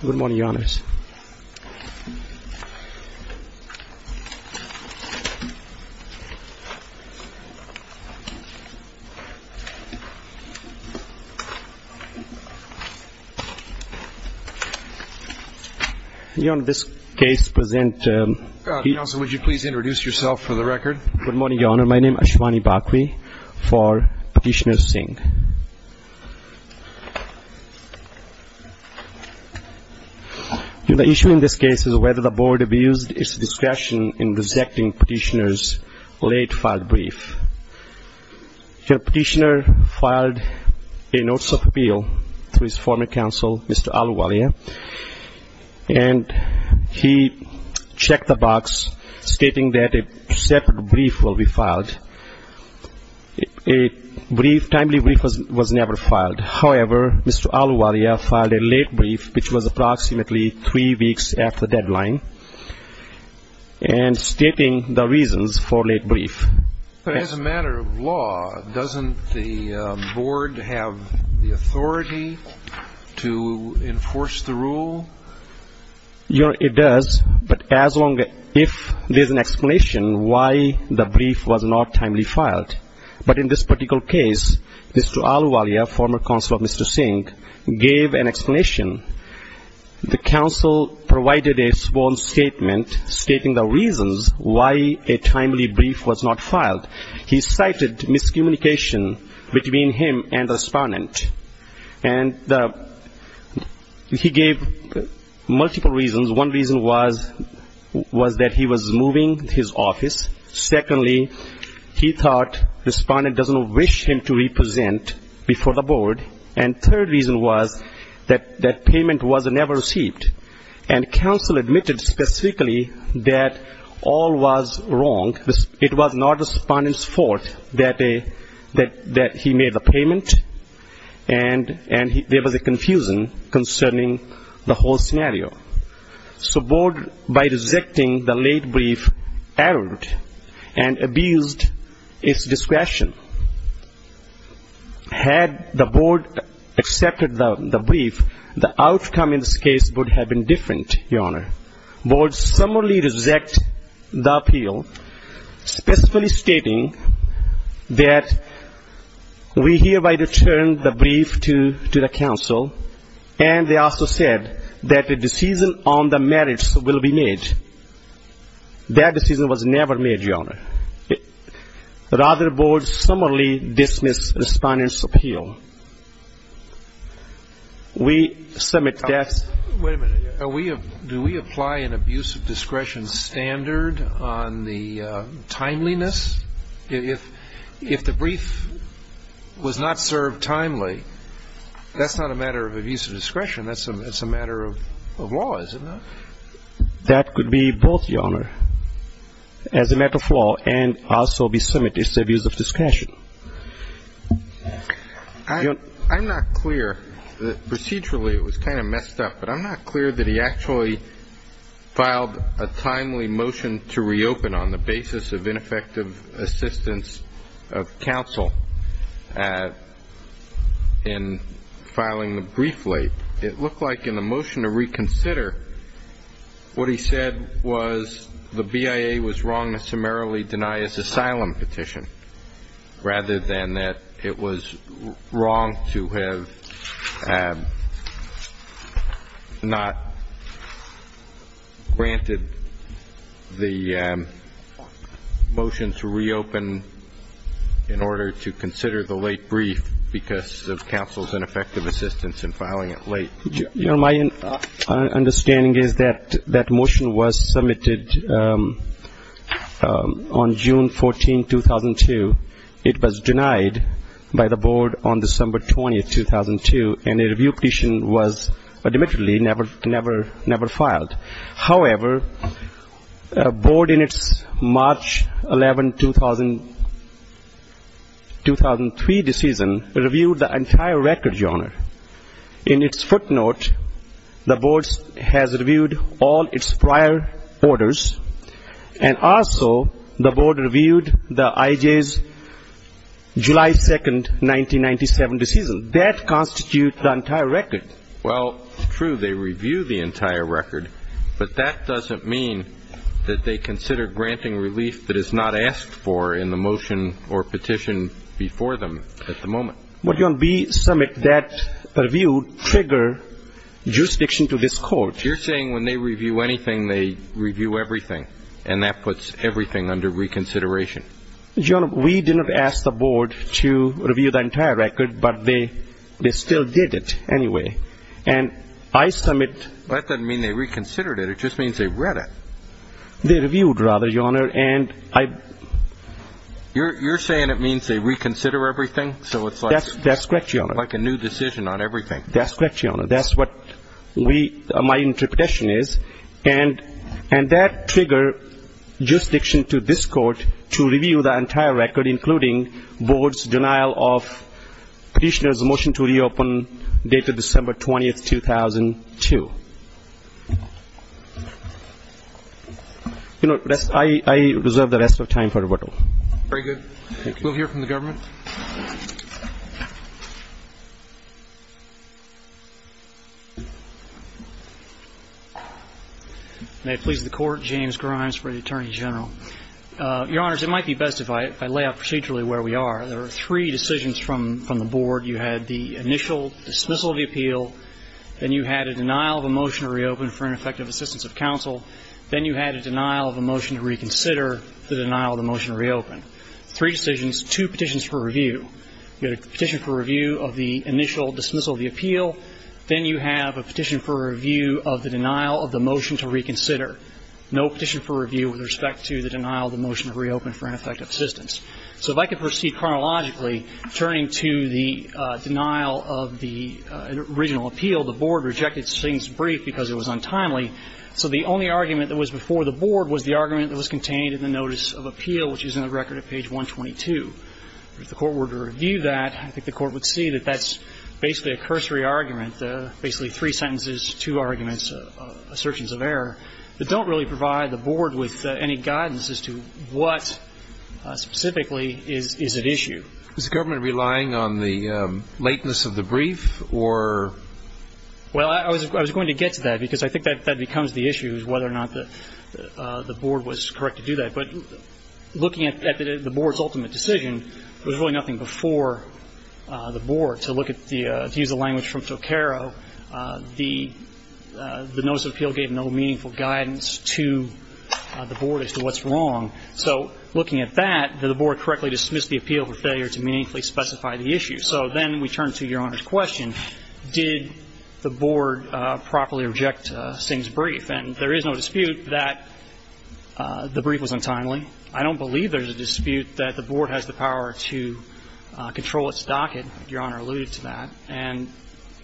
Good morning, Your Honors. Your Honor, this case presents... Counsel, would you please introduce yourself for the record? Good morning, Your Honor. My name is Ashwani Bakri for Petitioner Singh. The issue in this case is whether the Board abused its discretion in rejecting Petitioner's late-filed brief. Petitioner filed a Notice of Appeal to his former counsel, Mr. Aluwalia, and he checked the box stating that a separate brief will be filed. A brief, timely brief was never filed. However, Mr. Aluwalia filed a late brief, which was approximately three weeks after deadline, and stating the reasons for late brief. But as a matter of law, doesn't the Board have the authority to enforce the rule? Your Honor, it does, but as long as... if there's an explanation why the brief was not timely filed. But in this particular case, Mr. Aluwalia, former counsel of Mr. Singh, gave an explanation. The counsel provided a small statement stating the reasons why a timely brief was not filed. He cited miscommunication between him and the respondent. And he gave multiple reasons. One reason was that he was moving his office. Secondly, he thought the respondent doesn't wish him to represent before the Board. And third reason was that that payment was never received. And counsel admitted specifically that all was wrong. It was not the respondent's fault that he made the payment, and there was a confusion concerning the whole scenario. So Board, by rejecting the late brief, erred and abused its discretion. Had the Board accepted the brief, the outcome in this case would have been different, Your Honor. Board summarily rejected the appeal, specifically stating that we hereby return the brief to the counsel, and they also said that a decision on the marriage will be made. That decision was never made, Your Honor. Rather, Board summarily dismissed the respondent's appeal. We submit that. Wait a minute. Do we apply an abuse of discretion standard on the timeliness? If the brief was not served timely, that's not a matter of abuse of discretion. That's a matter of law, is it not? That could be both, Your Honor, as a matter of law and also be submitted as abuse of discretion. I'm not clear. Procedurally, it was kind of messed up, but I'm not clear that he actually filed a timely motion to reopen on the basis of ineffective assistance of counsel in filing the brief late. It looked like in the motion to reconsider, what he said was the BIA was wrong to summarily deny his asylum petition, rather than that it was wrong to have not granted the motion to reopen in order to consider the late brief because of counsel's ineffective assistance in filing it late. My understanding is that that motion was submitted on June 14, 2002. It was denied by the Board on December 20, 2002, and a review petition was admittedly never filed. However, Board in its March 11, 2003 decision reviewed the entire record, Your Honor. In its footnote, the Board has reviewed all its prior orders, and also the Board reviewed the IJ's July 2, 1997 decision. That constitutes the entire record. Well, it's true they review the entire record, but that doesn't mean that they consider granting relief that is not asked for in the motion or petition before them at the moment. But, Your Honor, we submit that the review triggered jurisdiction to this Court. You're saying when they review anything, they review everything, and that puts everything under reconsideration. Your Honor, we didn't ask the Board to review the entire record, but they still did it anyway. And I submit... That doesn't mean they reconsidered it. It just means they read it. They reviewed, rather, Your Honor, and I... You're saying it means they reconsider everything? That's correct, Your Honor. So it's like a new decision on everything. That's correct, Your Honor. That's what my interpretation is. And that triggered jurisdiction to this Court to review the entire record, including Board's denial of petitioner's motion to reopen dated December 20, 2002. You know, I reserve the rest of time for rebuttal. Very good. Thank you. We'll hear from the government. May it please the Court, James Grimes for the Attorney General. Your Honors, it might be best if I lay out procedurally where we are. There are three decisions from the Board. You had the initial dismissal of the appeal. Then you had a denial of a motion to reopen for ineffective assistance with counsel. Then you had a denial of a motion to reconsider, the denial of the motion to reopen. Three decisions, two petitions for review. You got a petition for review of the initial dismissal of the appeal. Then, you have a petition for review of the denial of the motion to reconsider, no petition for review with respect to the denial of the motion to reopen for ineffective assistance. So if I could proceed chronologically, turning to the denial of the original appeal, the Board rejected Sting's brief because it was untimely. So the only argument that was before the Board was the argument that was contained in the notice of appeal, which is in the record at page 122. If the Court were to review that, I think the Court would see that that's basically a cursory argument, basically three sentences, two arguments, assertions of error, that don't really provide the Board with any guidance as to what specifically is at issue. Is the Government relying on the lateness of the brief, or? Well, I was going to get to that, because I think that becomes the issue, whether or not the Board was correct to do that. But looking at the Board's ultimate decision, there was really nothing before the Board. To look at the – to use the language from Toqueiro, the notice of appeal gave no meaningful guidance to the Board as to what's wrong. So looking at that, did the Board correctly dismiss the appeal for failure to meaningfully specify the issue? So then we turn to Your Honor's question. Did the Board properly reject Sting's brief? And there is no dispute that the brief was untimely. I don't believe there's a dispute that the Board has the power to control its docket, Your Honor alluded to that. And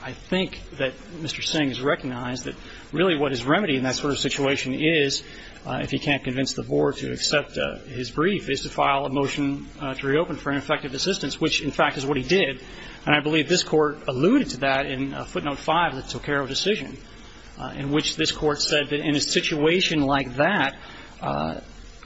I think that Mr. Sting has recognized that really what his remedy in that sort of situation is, if he can't convince the Board to accept his brief, is to file a motion to reopen for ineffective assistance, which, in fact, is what he did. And I believe this Court alluded to that in footnote 5 of the Toqueiro decision, in which this Court said that in a situation like that,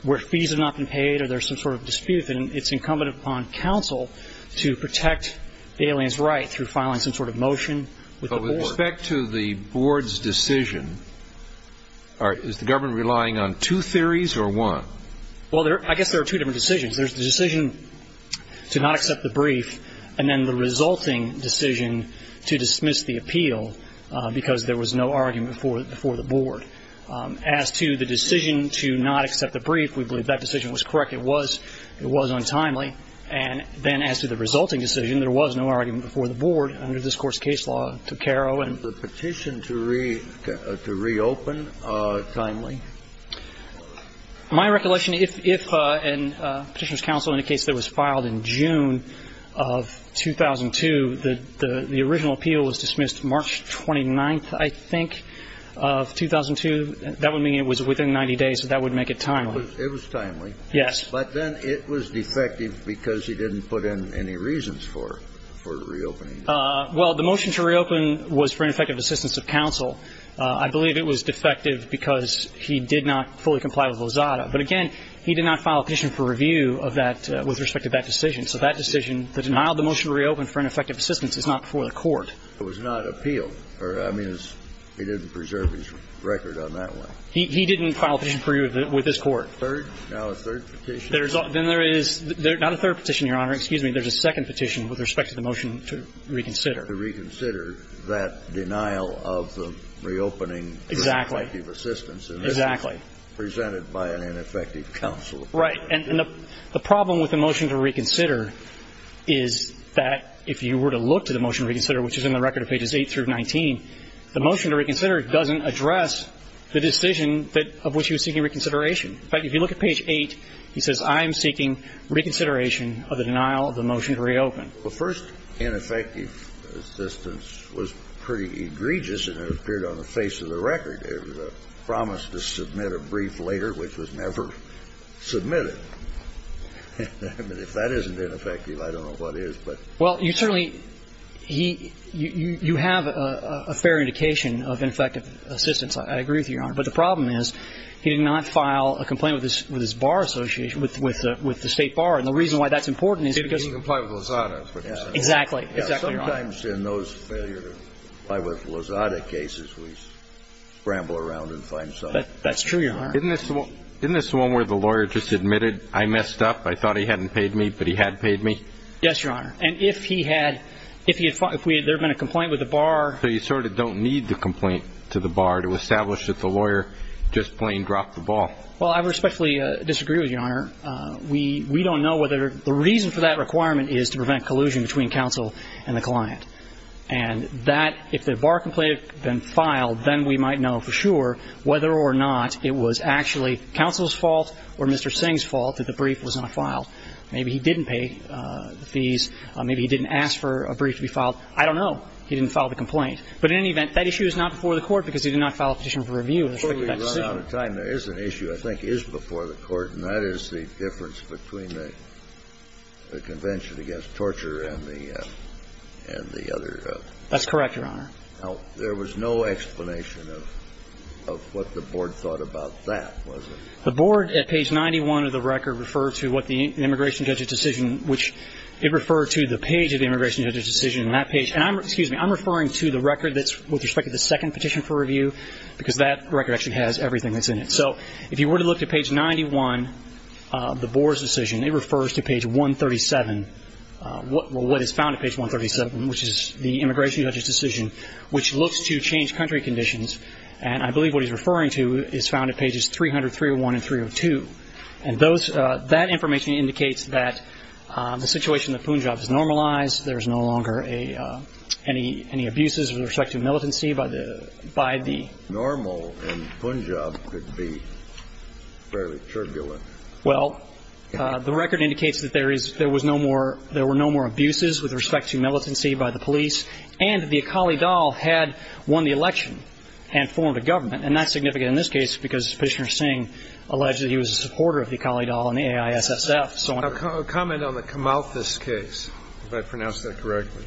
where fees have not been paid or there's some sort of dispute, then it's incumbent upon counsel to protect the alien's right through filing some sort of motion with the Board. But with respect to the Board's decision, is the government relying on two theories or one? Well, I guess there are two different decisions. There's the decision to not accept the brief and then the resulting decision to dismiss the appeal because there was no argument before the Board. As to the decision to not accept the brief, we believe that decision was correct. It was untimely. And then as to the resulting decision, there was no argument before the Board under this Court's case law, Toqueiro. And the petition to reopen timely? My recollection, if a Petitioner's Counsel indicates that it was filed in June of 2002, the original appeal was dismissed March 29th, I think, of 2002. That would mean it was within 90 days, so that would make it timely. It was timely. Yes. But then it was defective because he didn't put in any reasons for reopening. Well, the motion to reopen was for ineffective assistance of counsel. I believe it was defective because he did not fully comply with Lozada. But again, he did not file a petition for review of that with respect to that decision. So that decision, the denial of the motion to reopen for ineffective assistance, is not before the Court. It was not appealed. I mean, he didn't preserve his record on that one. He didn't file a petition for review with this Court. Third? Now a third petition? Then there is not a third petition, Your Honor. Excuse me. There's a second petition with respect to the motion to reconsider. To reconsider that denial of the reopening for ineffective assistance. Exactly. Presented by an ineffective counsel. Right. And the problem with the motion to reconsider is that if you were to look to the motion to reconsider, which is in the record of pages 8 through 19, the motion to reconsider doesn't address the decision of which he was seeking reconsideration. In fact, if you look at page 8, he says, I am seeking reconsideration of the denial of the motion to reopen. The first ineffective assistance was pretty egregious, and it appeared on the face of the record. It was a promise to submit a brief later, which was never submitted. I mean, if that isn't ineffective, I don't know what is, but. Well, you certainly he you have a fair indication of ineffective assistance. I agree with you, Your Honor. But the problem is he did not file a complaint with his bar association, with the State Bar. And the reason why that's important is because. Exactly. Exactly, Your Honor. Sometimes in those failures, like with Lozada cases, we scramble around and find something. That's true, Your Honor. Isn't this the one where the lawyer just admitted, I messed up, I thought he hadn't paid me, but he had paid me? Yes, Your Honor. And if he had, if there had been a complaint with the bar. So you sort of don't need the complaint to the bar to establish that the lawyer just plain dropped the ball. Well, I respectfully disagree with you, Your Honor. We don't know whether the reason for that requirement is to prevent collusion between counsel and the client. And that, if the bar complaint had been filed, then we might know for sure whether or not it was actually counsel's fault or Mr. Singh's fault that the brief was not filed. Maybe he didn't pay the fees. Maybe he didn't ask for a brief to be filed. I don't know. He didn't file the complaint. But in any event, that issue is not before the Court because he did not file a petition for review in respect to that decision. Before we run out of time, there is an issue I think is before the Court, and that is the difference between the Convention against Torture and the other. That's correct, Your Honor. Now, there was no explanation of what the Board thought about that, was there? The Board at page 91 of the record referred to what the immigration judge's decision which it referred to the page of the immigration judge's decision and that page. And I'm, excuse me, I'm referring to the record that's with respect to the second petition for review because that record actually has everything that's in it. So if you were to look to page 91 of the Board's decision, it refers to page 137, what is found at page 137, which is the immigration judge's decision, which looks to change country conditions. And I believe what he's referring to is found at pages 300, 301, and 302. And that information indicates that the situation in the Punjab is normalized. There is no longer any abuses with respect to militancy by the ---- Normal in Punjab could be fairly turbulent. Well, the record indicates that there is, there was no more, there were no more abuses with respect to militancy by the police. And the Akali Dal had won the election and formed a government. And that's significant in this case because Prishner Singh alleged that he was a supporter of the Akali Dal and the AISSF, so on. A comment on the Kamalthis case, if I pronounced that correctly.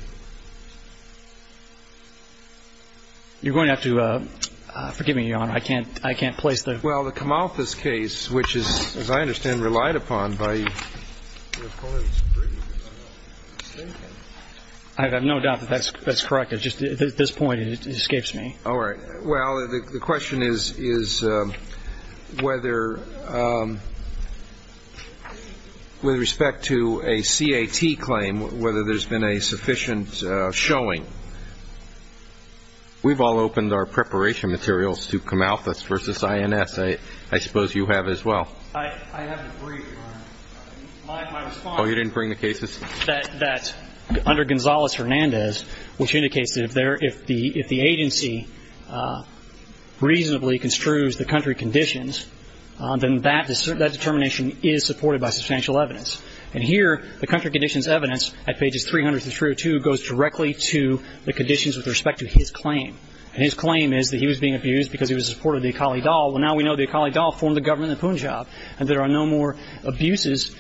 You're going to have to forgive me, Your Honor. I can't, I can't place the ---- Well, the Kamalthis case, which is, as I understand, relied upon by ---- I have no doubt that that's, that's correct. It's just at this point it escapes me. All right. Well, the question is, is whether with respect to a CAT claim, whether there's been a sufficient showing, we've all opened our preparation materials to Kamalthis versus INS. I suppose you have as well. I haven't agreed, Your Honor. My response ---- Oh, you didn't bring the cases? That under Gonzales-Hernandez, which indicates that if there, if the agency reasonably construes the country conditions, then that determination is supported by substantial evidence. And here, the country conditions evidence at pages 300 to 302 goes directly to the conditions with respect to his claim. And his claim is that he was being abused because he was a supporter of the Akali Dal. Well, now we know the Akali Dal formed the government of Punjab, and there are no more abuses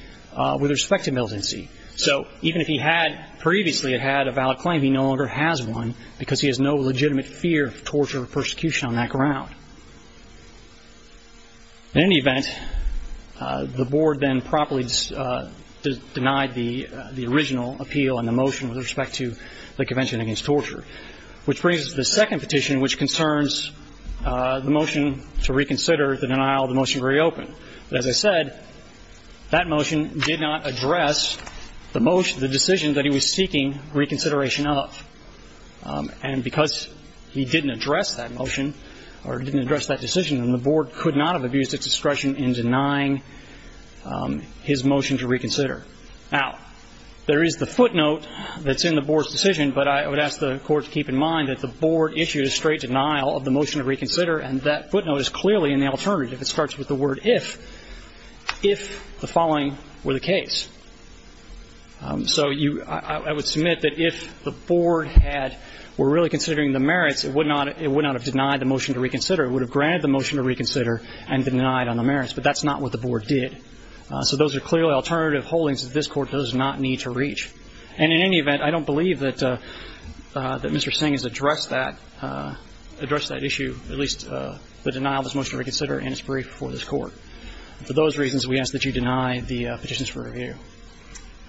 with respect to militancy. So even if he had previously had a valid claim, he no longer has one because he has no legitimate fear of torture or persecution on that ground. In any event, the Board then properly denied the original appeal and the motion with respect to the Convention Against Torture, which brings us to the second petition, which concerns the motion to reconsider the denial of the motion very open. But as I said, that motion did not address the motion, the decision that he was seeking reconsideration of. And because he didn't address that motion or didn't address that decision, then the Board could not have abused its discretion in denying his motion to reconsider. Now, there is the footnote that's in the Board's decision, but I would ask the Court to keep in mind that the Board issued a straight denial of the motion to reconsider, and that footnote is clearly in the alternative. It starts with the word if, if the following were the case. So you – I would submit that if the Board had – were really considering the merits, it would not – it would not have denied the motion to reconsider. It would have granted the motion to reconsider and denied on the merits. But that's not what the Board did. So those are clearly alternative holdings that this Court does not need to reach. And in any event, I don't believe that Mr. Singh has addressed that – addressed that issue, at least the denial of his motion to reconsider, in his brief before this Court. For those reasons, we ask that you deny the petitions for review.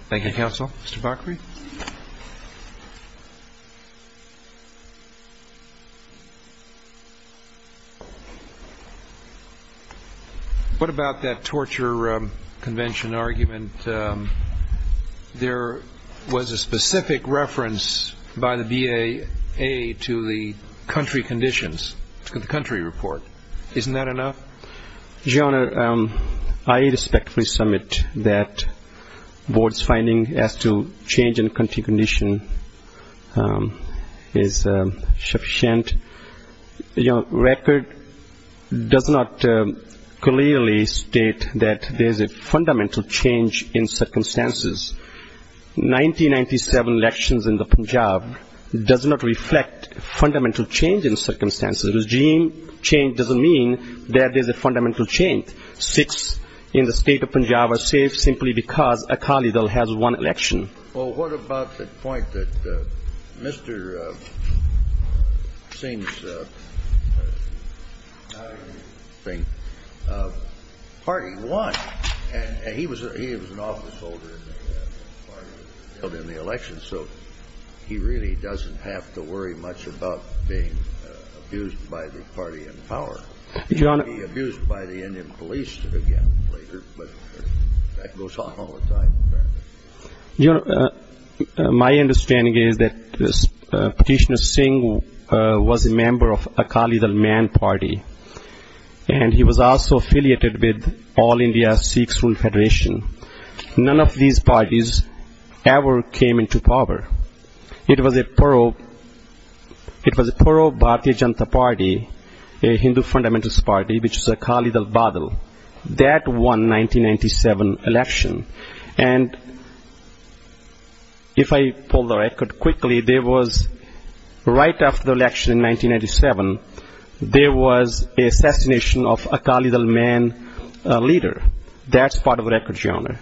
Thank you, Counsel. Mr. Bakri? What about that torture convention argument? There was a specific reference by the BAA to the country conditions, to the country report. Isn't that enough? Your Honor, I respectfully submit that the Board's finding as to change in country condition is sufficient. Your Honor, record does not clearly state that there is a fundamental change in circumstances. Ninety-ninety-seven elections in the Punjab does not reflect fundamental change in circumstances. A regime change doesn't mean that there's a fundamental change. Six in the state of Punjab are safe simply because a Khalid has won an election. Well, what about the point that Mr. Singh's party won? And he was an officeholder in the party that held in the election, so he really doesn't have to worry much about being abused by the party in power. He'll be abused by the Indian police again later, but that goes on all the time, apparently. Your Honor, my understanding is that Petitioner Singh was a member of a Khalid al-Man party, and he was also affiliated with All India Sikhs' Rule Federation. None of these parties ever came into power. It was a pro-Bharatiya Janata Party, a Hindu fundamentalist party, which is a Khalid al-Badal. That won 1997 election. And if I pull the record quickly, there was, right after the election in 1997, there was assassination of a Khalid al-Man leader. That's part of the record, Your Honor.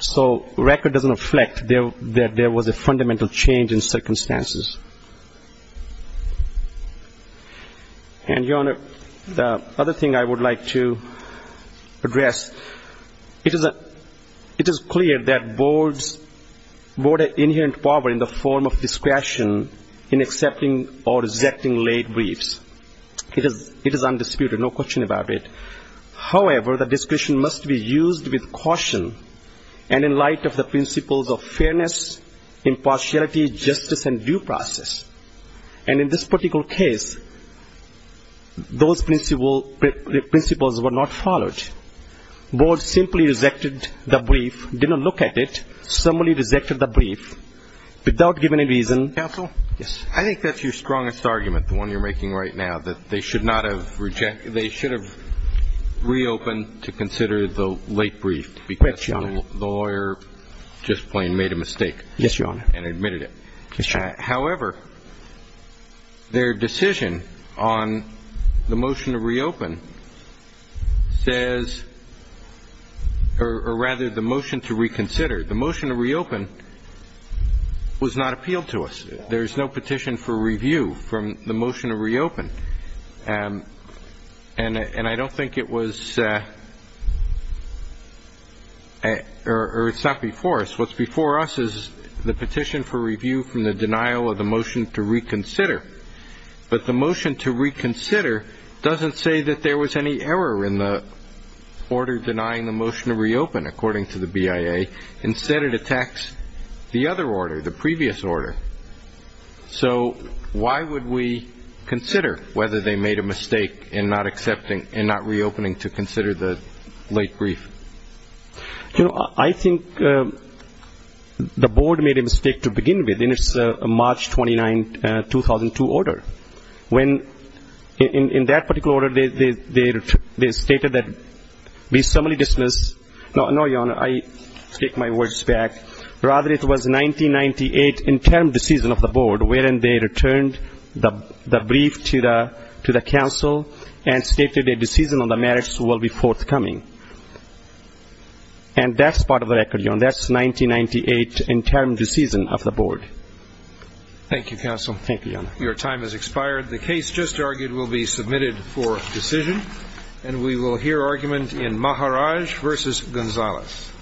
So record doesn't reflect that there was a fundamental change in circumstances. And, Your Honor, the other thing I would like to address, it is clear that boards board an inherent power in the form of discretion in accepting or rejecting late briefs. It is undisputed, no question about it. However, the discretion must be used with caution and in light of the principles of fairness, impartiality, justice, and due process. And in this particular case, those principles were not followed. Boards simply rejected the brief, didn't look at it, simply rejected the brief without giving a reason. Counsel? Yes. I think that's your strongest argument, the one you're making right now, that they should have reopened to consider the late brief because the lawyer just plain made a mistake. Yes, Your Honor. And admitted it. Yes, Your Honor. However, their decision on the motion to reopen says, or rather the motion to reconsider, the motion to reopen was not appealed to us. There's no petition for review from the motion to reopen. And I don't think it was or it's not before us. What's before us is the petition for review from the denial of the motion to reconsider. But the motion to reconsider doesn't say that there was any error in the order denying the motion to reopen, according to the BIA. Instead, it attacks the other order, the previous order. So why would we consider whether they made a mistake in not accepting and not reopening to consider the late brief? You know, I think the board made a mistake to begin with in its March 29, 2002 order. When, in that particular order, they stated that we summarily dismissed, no, Your Honor, the decision on the marriage was 1998 interim decision of the board, wherein they returned the brief to the council and stated a decision on the marriage will be forthcoming. And that's part of the record, Your Honor. That's 1998 interim decision of the board. Thank you, Counsel. Thank you, Your Honor. Your time has expired. The case just argued will be submitted for decision. And we will hear argument in Maharaj versus Gonzalez.